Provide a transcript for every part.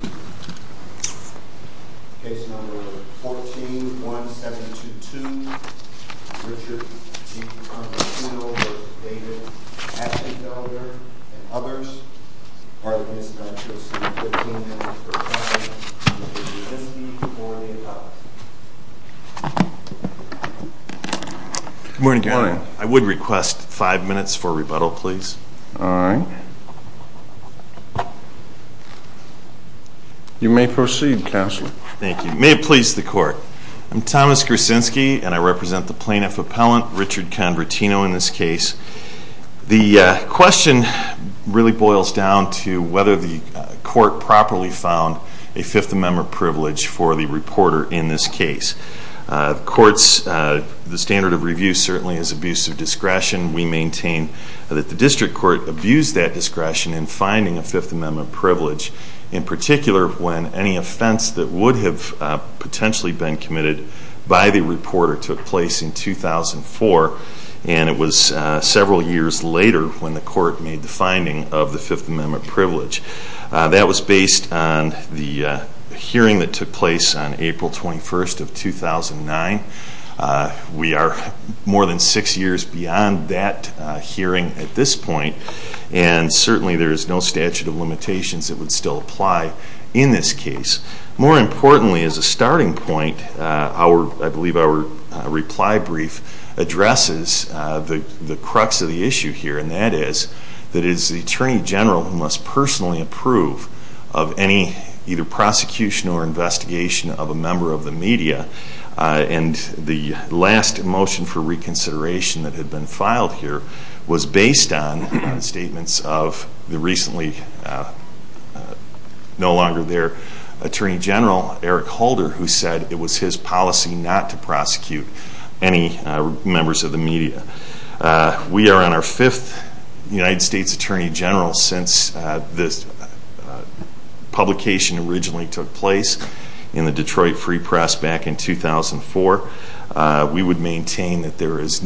and others. Parliamentarians, I'd like to ask you to give 15 minutes for rebuttal, if you would be so kind as to do so before the ad hoc session. Good morning. Good morning. I would request five minutes for rebuttal, please. All right. You may proceed, Counselor. Thank you. May it please the Court, I'm Thomas Gersinsky and I represent the Plaintiff Appellant, Richard Convertino, in this case. The question really boils down to whether the Court properly found a Fifth Amendment privilege for the reporter in this case. The standard of review certainly is abuse of discretion. We maintain that the District Court abused that discretion in finding a Fifth Amendment privilege, in particular when any offense that would have potentially been committed by the reporter took place in 2004, and it was several years later when the Court made the finding of the Fifth Amendment privilege. That was based on the hearing that took place on April 21st of 2009. We are more than six years beyond that hearing at this point, and certainly there is no statute of limitations that would still apply in this case. More importantly, as a starting point, I believe our reply brief addresses the crux of the issue here, and that is that it is the Attorney General who must personally approve of any either prosecution or investigation of a member of the media, and the last motion for reconsideration that had been filed here was based on statements of the recently no longer there Attorney General, Eric Holder, who said it was his policy not to prosecute any members of the media. We are on our fifth United States Attorney General since this publication originally took place in the Detroit Free Press back in 2004. We would maintain that there is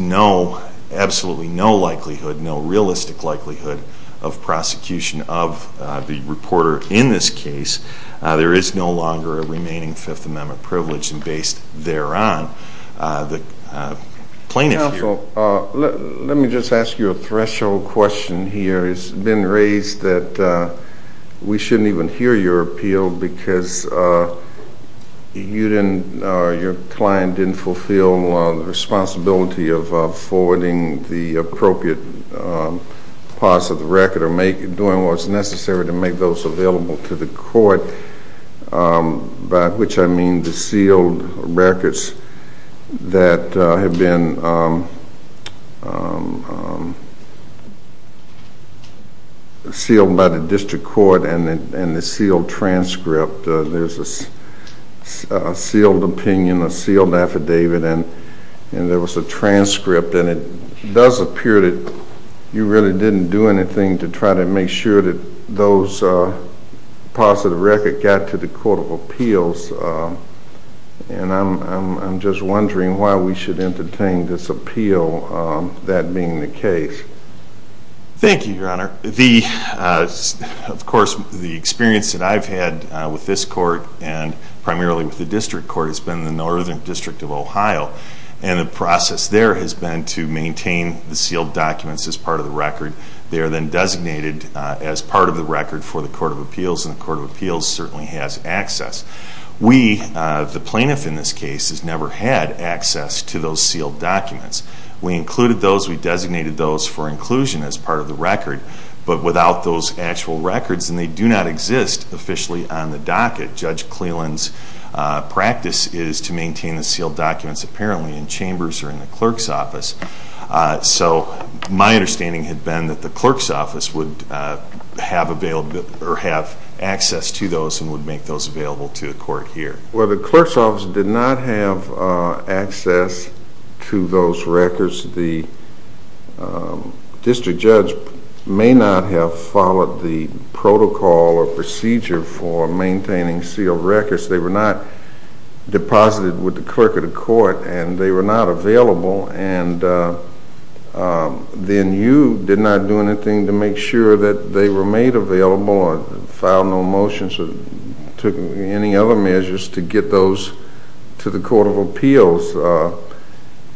absolutely no likelihood, no realistic likelihood, of prosecution of the reporter in this case. There is no longer a remaining Fifth Amendment privilege, and based thereon, the plaintiff here So let me just ask you a threshold question here. It's been raised that we shouldn't even hear your appeal because your client didn't fulfill the responsibility of forwarding the appropriate parts of the record or doing what's necessary to make those available to the court, by which I mean the sealed records that have been sealed by the district court and the sealed transcript. There's a sealed opinion, a sealed affidavit, and there was a transcript, and it does appear that you really didn't do anything to try to make sure that those parts of the record got to the Court of Appeals, and I'm just wondering why we should entertain this appeal, that being the case. Of course, the experience that I've had with this court, and primarily with the district court, has been the Northern District of Ohio, and the process there has been to maintain the sealed documents as part of the record. They are then designated as part of the record for the Court of Appeals, and the Court of Appeals certainly has access. We, the plaintiff in this case, has never had access to those sealed documents. We included those, we designated those for inclusion as part of the record, but without those actual records, and they do not exist officially on the docket. Judge Cleland's practice is to maintain the sealed documents apparently in chambers or in the clerk's office, so my understanding had been that the clerk's office would have access to those and would make those available to the court here. Well, the clerk's office did not have access to those records. The district judge may not have followed the protocol or procedure for maintaining sealed records. They were not deposited with the clerk of the court, and they were not available, and then you did not do anything to make sure that they were made available or filed no motions or took any other measures to get those to the Court of Appeals,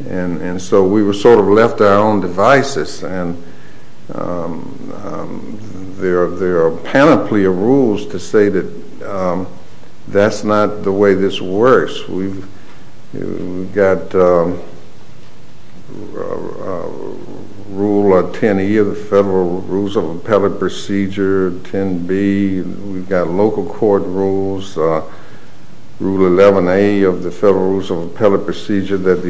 and so we were sort of left to our own devices, and there are a panoply of rules to say that that's not the way this works. We've got Rule 10E of the Federal Rules of Appellate Procedure, 10B, we've got local court rules, Rule 11A of the Federal Rules of Appellate Procedure that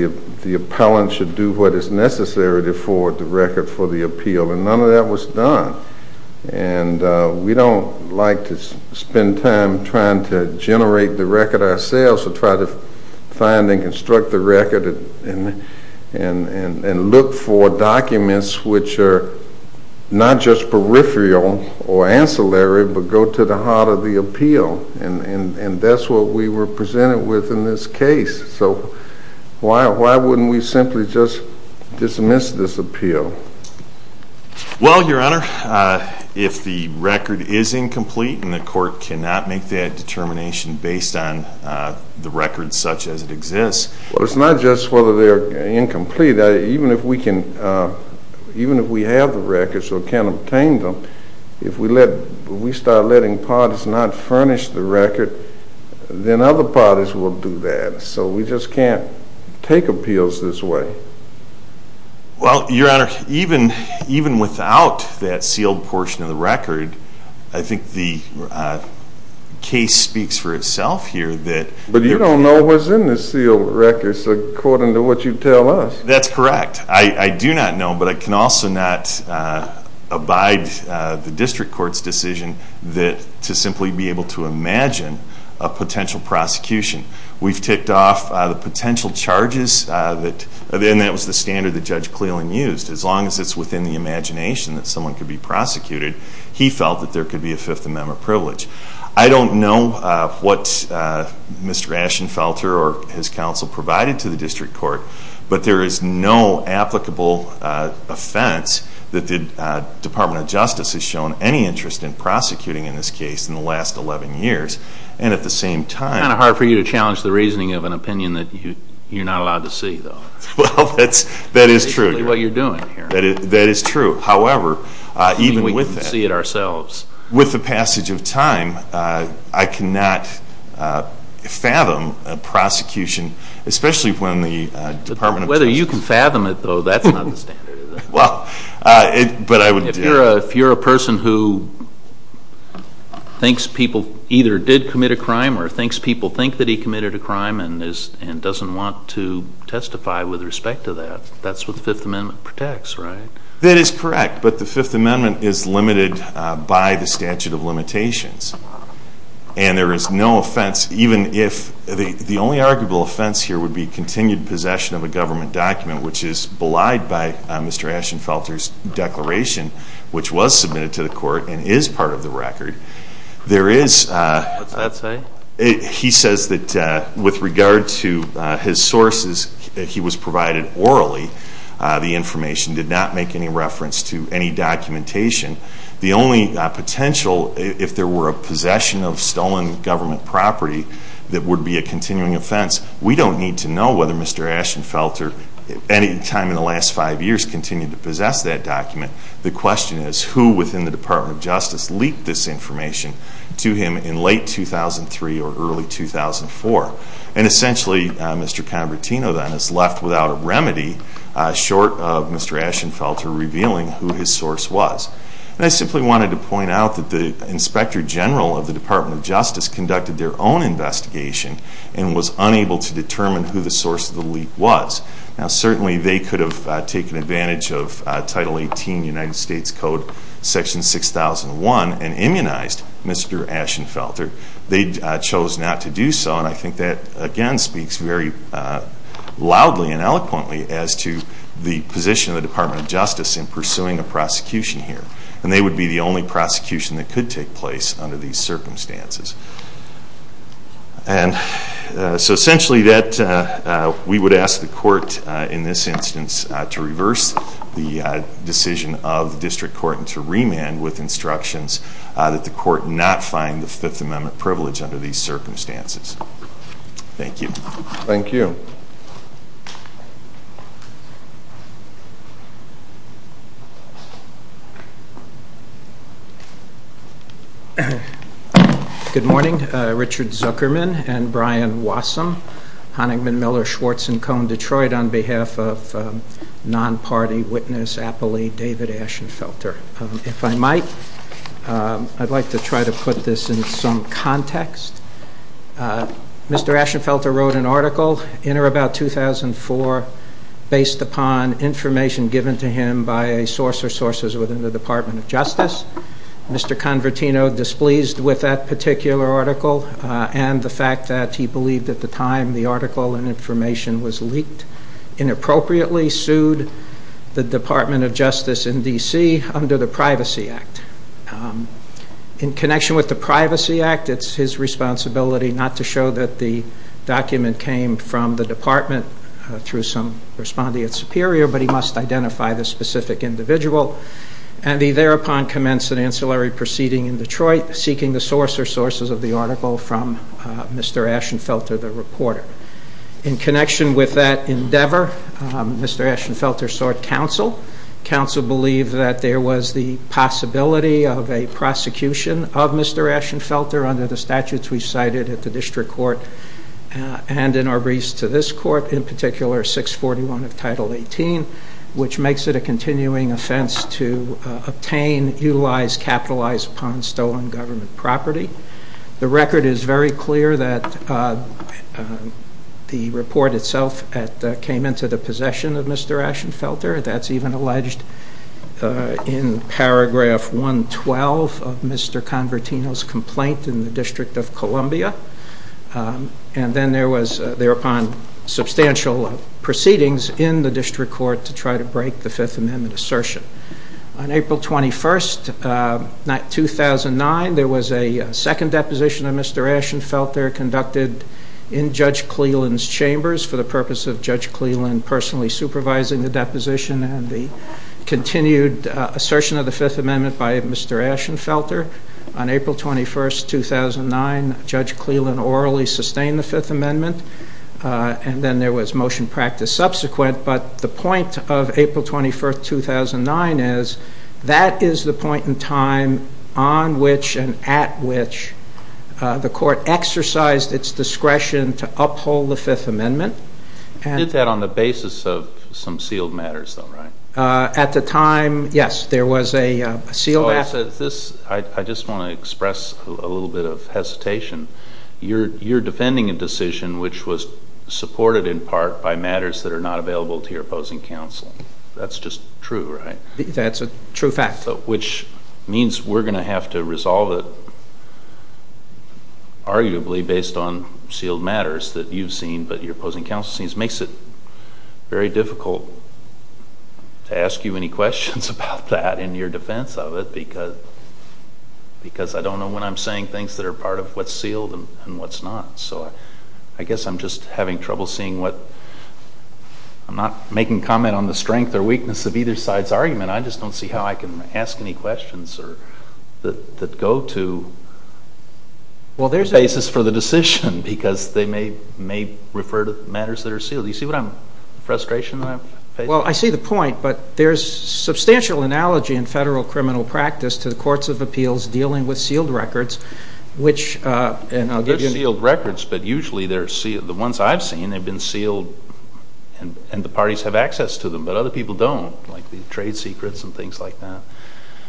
the appellant should do what is necessary to forward the record for the appeal, and none of that was done, and we don't like to spend time trying to generate the record ourselves or try to find and construct the record and look for documents which are not just peripheral or ancillary but go to the heart of the appeal, and that's what we were presented with in this case, so why wouldn't we simply just dismiss this appeal? Well, Your Honor, if the record is incomplete and the court cannot make that determination based on the record such as it exists… Well, it's not just whether they're incomplete. You see, even if we have the records or can obtain them, if we start letting parties not furnish the record, then other parties will do that, so we just can't take appeals this way. Well, Your Honor, even without that sealed portion of the record, I think the case speaks for itself here that… You don't know what's in the sealed records according to what you tell us. That's correct. I do not know, but I can also not abide the district court's decision to simply be able to imagine a potential prosecution. We've ticked off the potential charges, and that was the standard that Judge Cleland used. As long as it's within the imagination that someone could be prosecuted, he felt that there could be a Fifth Amendment privilege. I don't know what Mr. Ashenfelter or his counsel provided to the district court, but there is no applicable offense that the Department of Justice has shown any interest in prosecuting in this case in the last 11 years. And at the same time… It's kind of hard for you to challenge the reasoning of an opinion that you're not allowed to see, though. Well, that is true. That is what you're doing here. That is true. However, even with that… We can see it ourselves. With the passage of time, I cannot fathom a prosecution, especially when the Department of Justice… Whether you can fathom it, though, that's not the standard, is it? Well, but I would… If you're a person who thinks people either did commit a crime or thinks people think that he committed a crime and doesn't want to testify with respect to that, that's what the Fifth Amendment protects, right? That is correct, but the Fifth Amendment is limited by the statute of limitations. And there is no offense, even if… The only arguable offense here would be continued possession of a government document, which is belied by Mr. Ashenfelter's declaration, which was submitted to the court and is part of the record. There is… What's that say? He says that with regard to his sources, he was provided orally. The information did not make any reference to any documentation. The only potential, if there were a possession of stolen government property, that would be a continuing offense. We don't need to know whether Mr. Ashenfelter, any time in the last five years, continued to possess that document. The question is who within the Department of Justice leaked this information to him in late 2003 or early 2004. And essentially, Mr. Convertino then is left without a remedy, short of Mr. Ashenfelter revealing who his source was. And I simply wanted to point out that the Inspector General of the Department of Justice conducted their own investigation and was unable to determine who the source of the leak was. Now certainly they could have taken advantage of Title 18 United States Code Section 6001 and immunized Mr. Ashenfelter. They chose not to do so and I think that again speaks very loudly and eloquently as to the position of the Department of Justice in pursuing a prosecution here. And they would be the only prosecution that could take place under these circumstances. And so essentially we would ask the court in this instance to reverse the decision of the district court and to remand with instructions that the court not find the Fifth Amendment privilege under these circumstances. Thank you. Thank you. Thank you. Good morning. Richard Zuckerman and Brian Wassum, Honigman, Miller, Schwartz and Cone, Detroit, on behalf of non-party witness appellee David Ashenfelter. If I might, I'd like to try to put this in some context. Mr. Ashenfelter wrote an article in or about 2004 based upon information given to him by a source or sources within the Department of Justice. Mr. Convertino, displeased with that particular article and the fact that he believed at the time the article and information was leaked, inappropriately sued the Department of Justice in D.C. under the Privacy Act. In connection with the Privacy Act, it's his responsibility not to show that the document came from the Department through some respondeat superior, but he must identify the specific individual. And he thereupon commenced an ancillary proceeding in Detroit seeking the source or sources of the article from Mr. Ashenfelter, the reporter. In connection with that endeavor, Mr. Ashenfelter sought counsel. Counsel believed that there was the possibility of a prosecution of Mr. Ashenfelter under the statutes we cited at the district court and in our briefs to this court, in particular 641 of Title 18, which makes it a continuing offense to obtain, utilize, capitalize upon stolen government property. The record is very clear that the report itself came into the possession of Mr. Ashenfelter. That's even alleged in paragraph 112 of Mr. Convertino's complaint in the District of Columbia. And then there was thereupon substantial proceedings in the district court to try to break the Fifth Amendment assertion. On April 21st, 2009, there was a second deposition of Mr. Ashenfelter conducted in Judge Cleland's chambers for the purpose of Judge Cleland personally supervising the deposition and the continued assertion of the Fifth Amendment by Mr. Ashenfelter. On April 21st, 2009, Judge Cleland orally sustained the Fifth Amendment. And then there was motion practice subsequent. But the point of April 21st, 2009 is that is the point in time on which and at which the court exercised its discretion to uphold the Fifth Amendment. You did that on the basis of some sealed matters though, right? At the time, yes, there was a sealed act. I just want to express a little bit of hesitation. You're defending a decision which was supported in part by matters that are not available to your opposing counsel. That's just true, right? That's a true fact. Which means we're going to have to resolve it arguably based on sealed matters that you've seen but your opposing counsel seems makes it very difficult to ask you any questions about that in your defense of it because I don't know when I'm saying things that are part of what's sealed and what's not. So I guess I'm just having trouble seeing what I'm not making comment on the strength or weakness of either side's argument. I just don't see how I can ask any questions that go to the basis for the decision because they may refer to matters that are sealed. Do you see the frustration that I'm facing? Well, I see the point, but there's substantial analogy in federal criminal practice to the courts of appeals dealing with sealed records which, and I'll give you an example. There's sealed records, but usually they're sealed. The ones I've seen have been sealed and the parties have access to them, but other people don't like the trade secrets and things like that.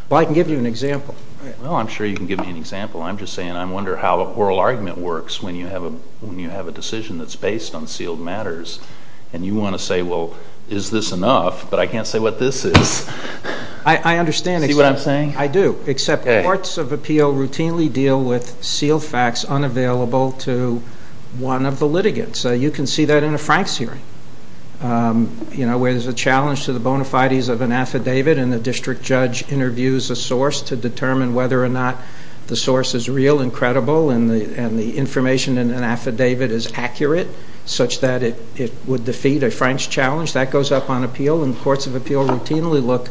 Well, I can give you an example. Well, I'm sure you can give me an example. I'm just saying I wonder how a oral argument works when you have a decision that's based on sealed matters and you want to say, well, is this enough? But I can't say what this is. I understand. See what I'm saying? I do, except courts of appeal routinely deal with sealed facts unavailable to one of the litigants. You can see that in a Franks hearing where there's a challenge to the bona fides of an affidavit and the district judge interviews a source to determine whether or not the source is real and credible and the information in an affidavit is accurate such that it would defeat a Franks challenge. That goes up on appeal, and courts of appeal routinely look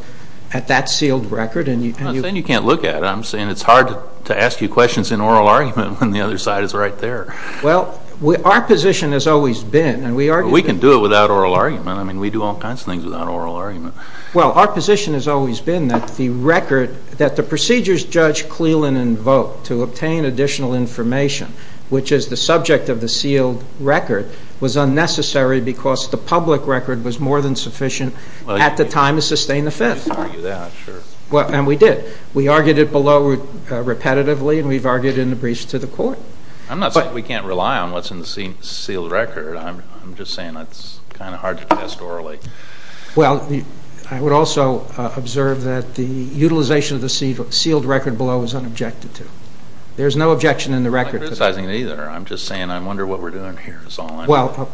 at that sealed record. I'm not saying you can't look at it. I'm saying it's hard to ask you questions in oral argument when the other side is right there. Well, our position has always been, and we argue that... We can do it without oral argument. I mean, we do all kinds of things without oral argument. Well, our position has always been that the record, that the procedures Judge Cleland invoked to obtain additional information, which is the subject of the sealed record, was unnecessary because the public record was more than sufficient at the time to sustain the Fifth. You could argue that, sure. And we did. We argued it below repetitively, and we've argued it in the briefs to the court. I'm not saying we can't rely on what's in the sealed record. I'm just saying it's kind of hard to test orally. Well, I would also observe that the utilization of the sealed record below is unobjected to. There's no objection in the record. I'm not criticizing it either. I'm just saying I wonder what we're doing here is all I know.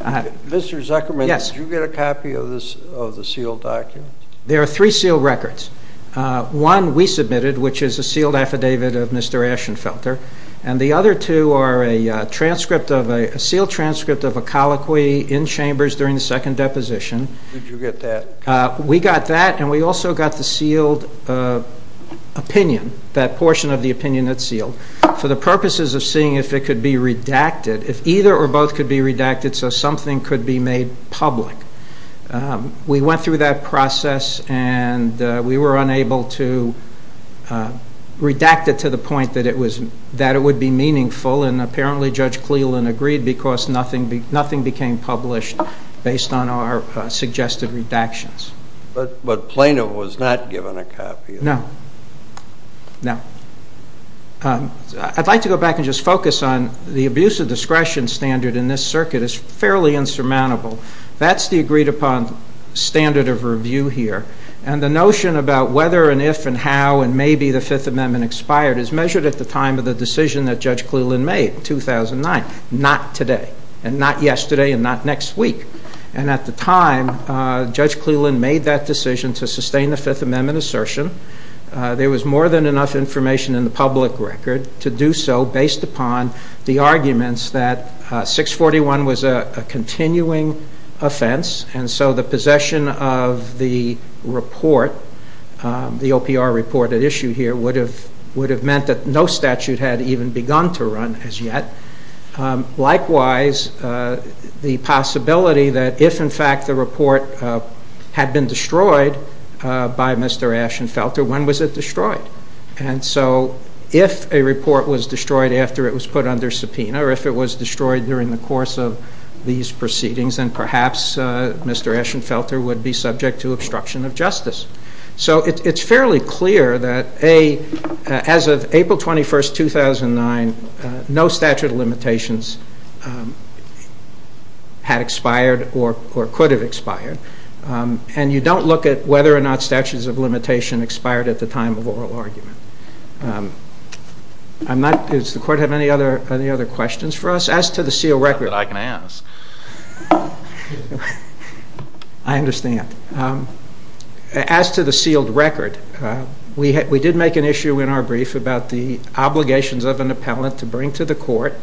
Mr. Zuckerman, did you get a copy of the sealed document? There are three sealed records. One we submitted, which is a sealed affidavit of Mr. Ashenfelter, and the other two are a sealed transcript of a colloquy in Chambers during the second deposition. Did you get that? We got that, and we also got the sealed opinion, that portion of the opinion that's sealed, for the purposes of seeing if it could be redacted, if either or both could be redacted so something could be made public. We went through that process, and we were unable to redact it to the point that it would be meaningful, and apparently Judge Cleland agreed because nothing became published based on our suggested redactions. But Plano was not given a copy of it. No, no. I'd like to go back and just focus on the abuse of discretion standard in this circuit is fairly insurmountable. That's the agreed-upon standard of review here, and the notion about whether and if and how and maybe the Fifth Amendment expired is measured at the time of the decision that Judge Cleland made in 2009, not today, and not yesterday, and not next week. And at the time, Judge Cleland made that decision to sustain the Fifth Amendment assertion. There was more than enough information in the public record to do so, based upon the arguments that 641 was a continuing offense, and so the possession of the report, the OPR report at issue here, would have meant that no statute had even begun to run as yet. Likewise, the possibility that if, in fact, the report had been destroyed by Mr. Ashenfelter, when was it destroyed? And so if a report was destroyed after it was put under subpoena, or if it was destroyed during the course of these proceedings, then perhaps Mr. Ashenfelter would be subject to obstruction of justice. So it's fairly clear that, A, as of April 21, 2009, no statute of limitations had expired or could have expired, and you don't look at whether or not statutes of limitation expired at the time of oral argument. Does the Court have any other questions for us? As to the sealed record, I understand. As to the sealed record, we did make an issue in our brief about the obligations of an appellant to bring to the Court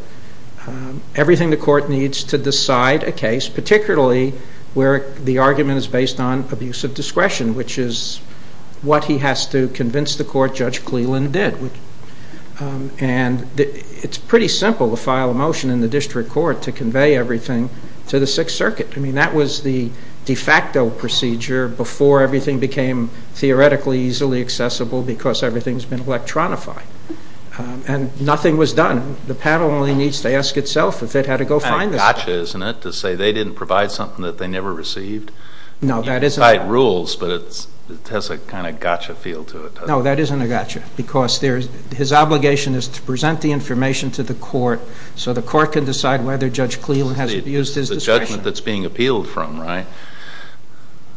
everything the Court needs to decide a case, particularly where the argument is based on abuse of discretion, which is what he has to convince the Court Judge Cleland did. And it's pretty simple to file a motion in the District Court to convey everything to the Sixth Circuit. I mean, that was the de facto procedure before everything became theoretically easily accessible because everything's been electronified. And nothing was done. The panel only needs to ask itself if it had to go find this. It's a gotcha, isn't it, to say they didn't provide something that they never received? No, that isn't. You can cite rules, but it has a kind of gotcha feel to it. No, that isn't a gotcha because his obligation is to present the information to the Court so the Court can decide whether Judge Cleland has abused his discretion. It's the judgment that's being appealed from, right?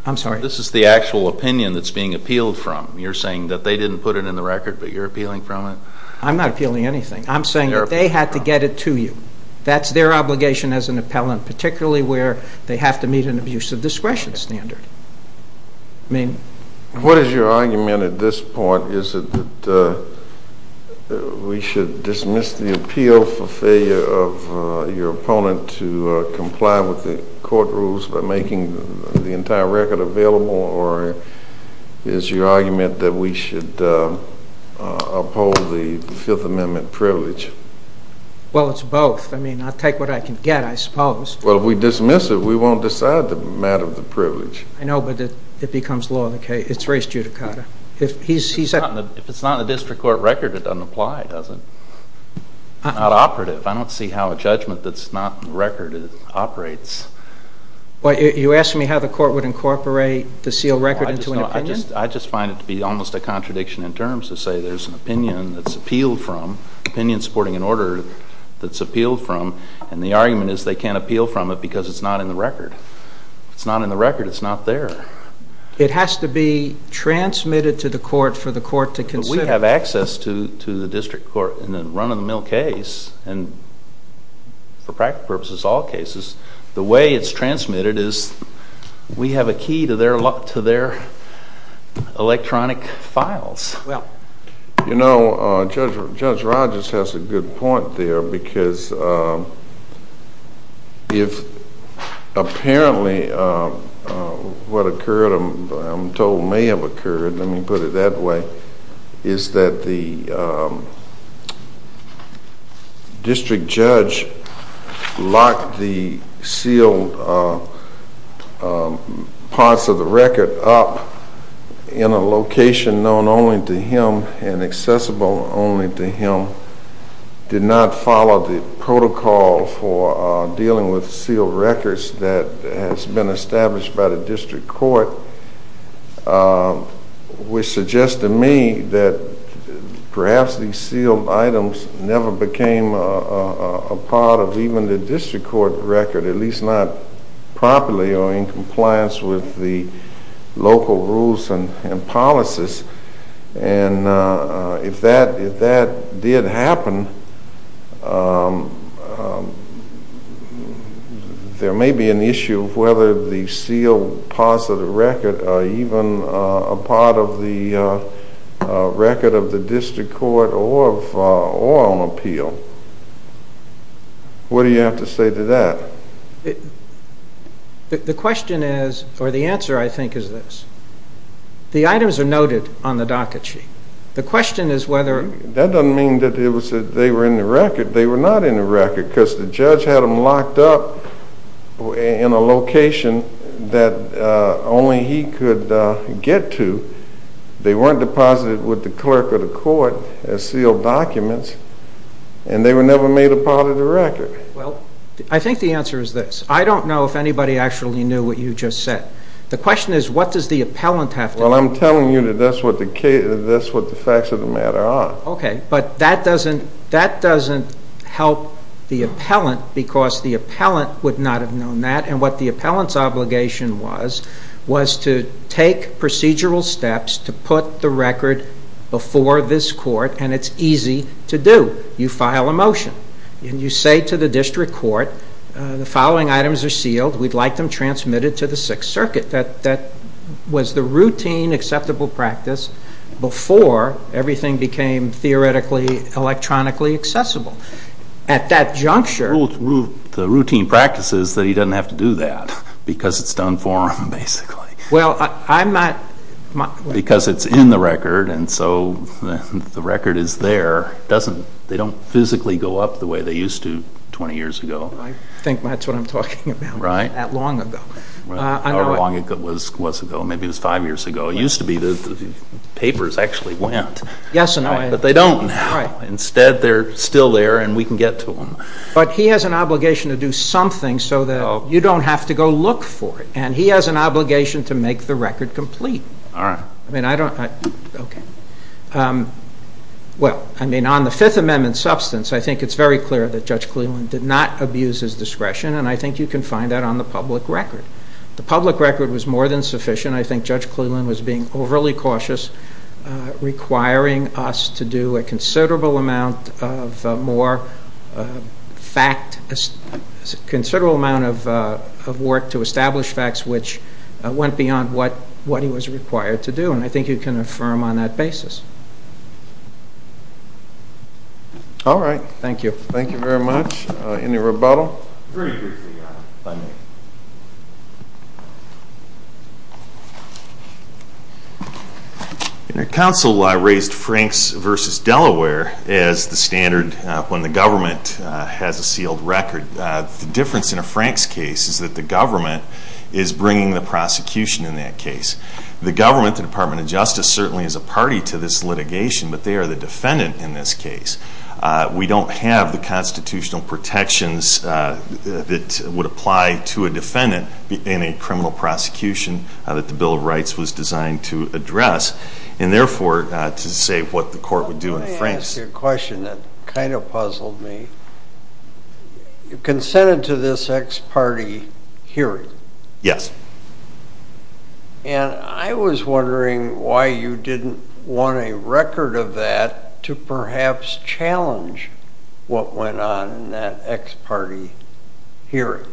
I'm sorry? This is the actual opinion that's being appealed from. You're saying that they didn't put it in the record, but you're appealing from it? I'm not appealing anything. I'm saying that they had to get it to you. That's their obligation as an appellant, particularly where they have to meet an abusive discretion standard. What is your argument at this point? Is it that we should dismiss the appeal for failure of your opponent to comply with the court rules by making the entire record available, or is your argument that we should uphold the Fifth Amendment privilege? Well, it's both. I mean, I'll take what I can get, I suppose. Well, if we dismiss it, we won't decide the matter of the privilege. I know, but it becomes law in the case. It's race judicata. If it's not in the district court record, it doesn't apply, does it? It's not operative. I don't see how a judgment that's not in the record operates. You're asking me how the Court would incorporate the sealed record into an opinion? I just find it to be almost a contradiction in terms to say there's an opinion that's appealed from, opinion supporting an order that's appealed from, and the argument is they can't appeal from it because it's not in the record. If it's not in the record, it's not there. It has to be transmitted to the court for the court to consider. But we have access to the district court in a run-of-the-mill case, and for practical purposes, all cases. The way it's transmitted is we have a key to their electronic files. Well, you know, Judge Rogers has a good point there because if apparently what occurred, I'm told may have occurred, let me put it that way, is that the district judge locked the sealed parts of the record up in a location known only to him and accessible only to him, did not follow the protocol for dealing with sealed records that has been established by the district court, which suggests to me that perhaps these sealed items never became a part of even the district court record, at least not properly or in compliance with the local rules and policies. And if that did happen, there may be an issue of whether the sealed parts of the record are even a part of the record of the district court or on appeal. What do you have to say to that? The question is, or the answer I think is this. The items are noted on the docket sheet. The question is whether... That doesn't mean that they were in the record. They were not in the record because the judge had them locked up in a location that only he could get to. They weren't deposited with the clerk of the court as sealed documents, and they were never made a part of the record. Well, I think the answer is this. I don't know if anybody actually knew what you just said. The question is what does the appellant have to... Well, I'm telling you that that's what the facts of the matter are. Okay, but that doesn't help the appellant because the appellant would not have known that, and what the appellant's obligation was was to take procedural steps to put the record before this court, and it's easy to do. You file a motion, and you say to the district court, the following items are sealed. We'd like them transmitted to the Sixth Circuit. That was the routine acceptable practice before everything became theoretically electronically accessible. At that juncture... The routine practice is that he doesn't have to do that because it's done for him, basically. Well, I'm not... Because it's in the record, and so the record is there. They don't physically go up the way they used to 20 years ago. I think that's what I'm talking about. Right. That long ago. How long ago was ago? Maybe it was five years ago. It used to be the papers actually went. Yes, and I... But they don't now. Instead, they're still there, and we can get to them. But he has an obligation to do something so that you don't have to go look for it, and he has an obligation to make the record complete. All right. I mean, I don't... Okay. Well, I mean, on the Fifth Amendment substance, I think it's very clear that Judge Cleland did not abuse his discretion, and I think you can find that on the public record. The public record was more than sufficient. I think Judge Cleland was being overly cautious, requiring us to do a considerable amount of more fact, a considerable amount of work to establish facts which went beyond what he was required to do, and I think you can affirm on that basis. All right. Thank you. Thank you very much. Any rebuttal? Very briefly, Your Honor. If I may. Your counsel raised Franks v. Delaware as the standard when the government has a sealed record. The difference in a Franks case is that the government is bringing the prosecution in that case. The government, the Department of Justice, certainly is a party to this litigation, but they are the defendant in this case. We don't have the constitutional protections that would apply to a defendant in a criminal prosecution that the Bill of Rights was designed to address, and therefore, to say what the court would do in a Franks... Let me ask you a question that kind of puzzled me. You consented to this ex-party hearing. Yes. And I was wondering why you didn't want a record of that to perhaps challenge what went on in that ex-party hearing.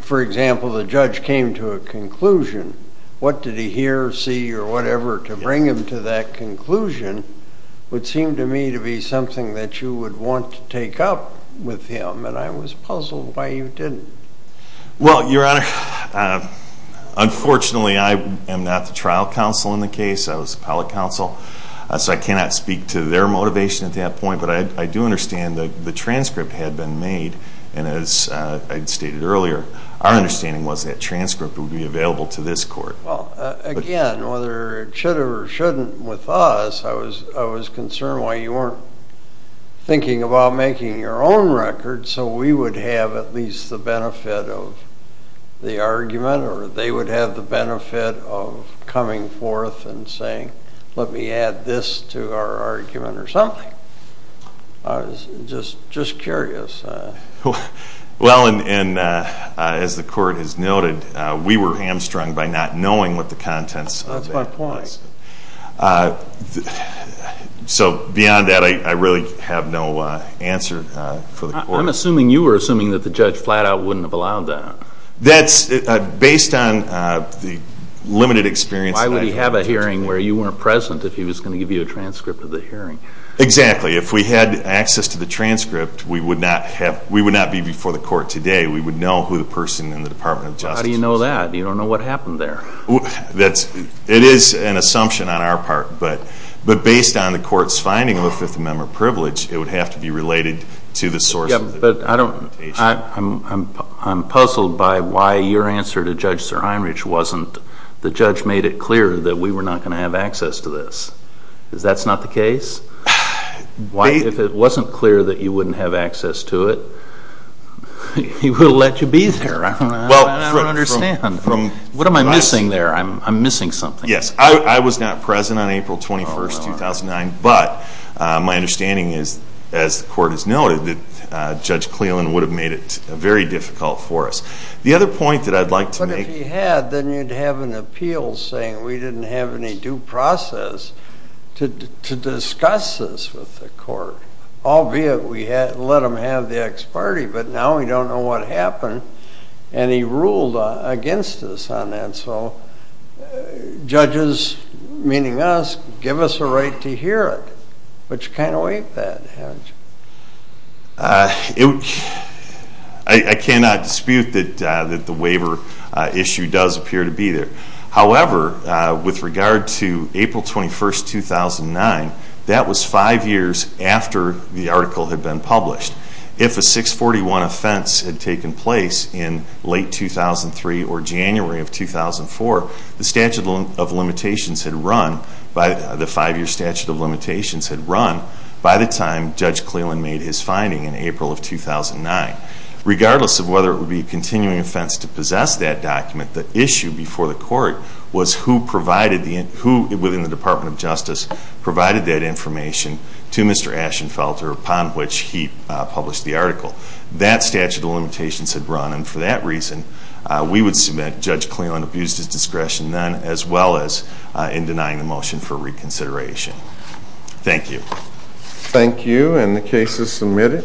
For example, the judge came to a conclusion. What did he hear, see, or whatever to bring him to that conclusion would seem to me to be something that you would want to take up with him, and I was puzzled why you didn't. Well, Your Honor, unfortunately, I am not the trial counsel in the case. I was the appellate counsel, so I cannot speak to their motivation at that point, but I do understand that the transcript had been made, and as I stated earlier, our understanding was that transcript would be available to this court. Well, again, whether it should or shouldn't with us, I was concerned why you weren't thinking about making your own record so we would have at least the benefit of the argument or they would have the benefit of coming forth and saying, let me add this to our argument or something. I was just curious. Well, and as the court has noted, we were hamstrung by not knowing what the contents of that was. That's my point. So beyond that, I really have no answer for the court. I'm assuming you were assuming that the judge flat out wouldn't have allowed that. That's based on the limited experience that I had. Why would he have a hearing where you weren't present if he was going to give you a transcript of the hearing? Exactly. If we had access to the transcript, we would not be before the court today. We would know who the person in the Department of Justice was. How do you know that? You don't know what happened there. It is an assumption on our part, but based on the court's finding of a Fifth Amendment privilege, it would have to be related to the source of the limitation. I'm puzzled by why your answer to Judge Sir Heinrich wasn't, the judge made it clear that we were not going to have access to this. Is that not the case? If it wasn't clear that you wouldn't have access to it, he would have let you be there. I don't understand. What am I missing there? I'm missing something. Yes, I was not present on April 21, 2009, but my understanding is, as the court has noted, that Judge Cleland would have made it very difficult for us. The other point that I'd like to make. But if he had, then you'd have an appeal saying we didn't have any due process to discuss this with the court, albeit we let him have the ex parte, but now we don't know what happened, and he ruled against us on that. So judges, meaning us, give us a right to hear it, which kind of ain't that, haven't you? I cannot dispute that the waiver issue does appear to be there. However, with regard to April 21, 2009, that was five years after the article had been published. If a 641 offense had taken place in late 2003 or January of 2004, the statute of limitations had run, the five-year statute of limitations had run, by the time Judge Cleland made his finding in April of 2009. Regardless of whether it would be a continuing offense to possess that document, the issue before the court was who within the Department of Justice provided that information to Mr. Ashenfelter upon which he published the article. That statute of limitations had run, and for that reason we would submit Judge Cleland abused his discretion then, as well as in denying the motion for reconsideration. Thank you. Thank you, and the case is submitted.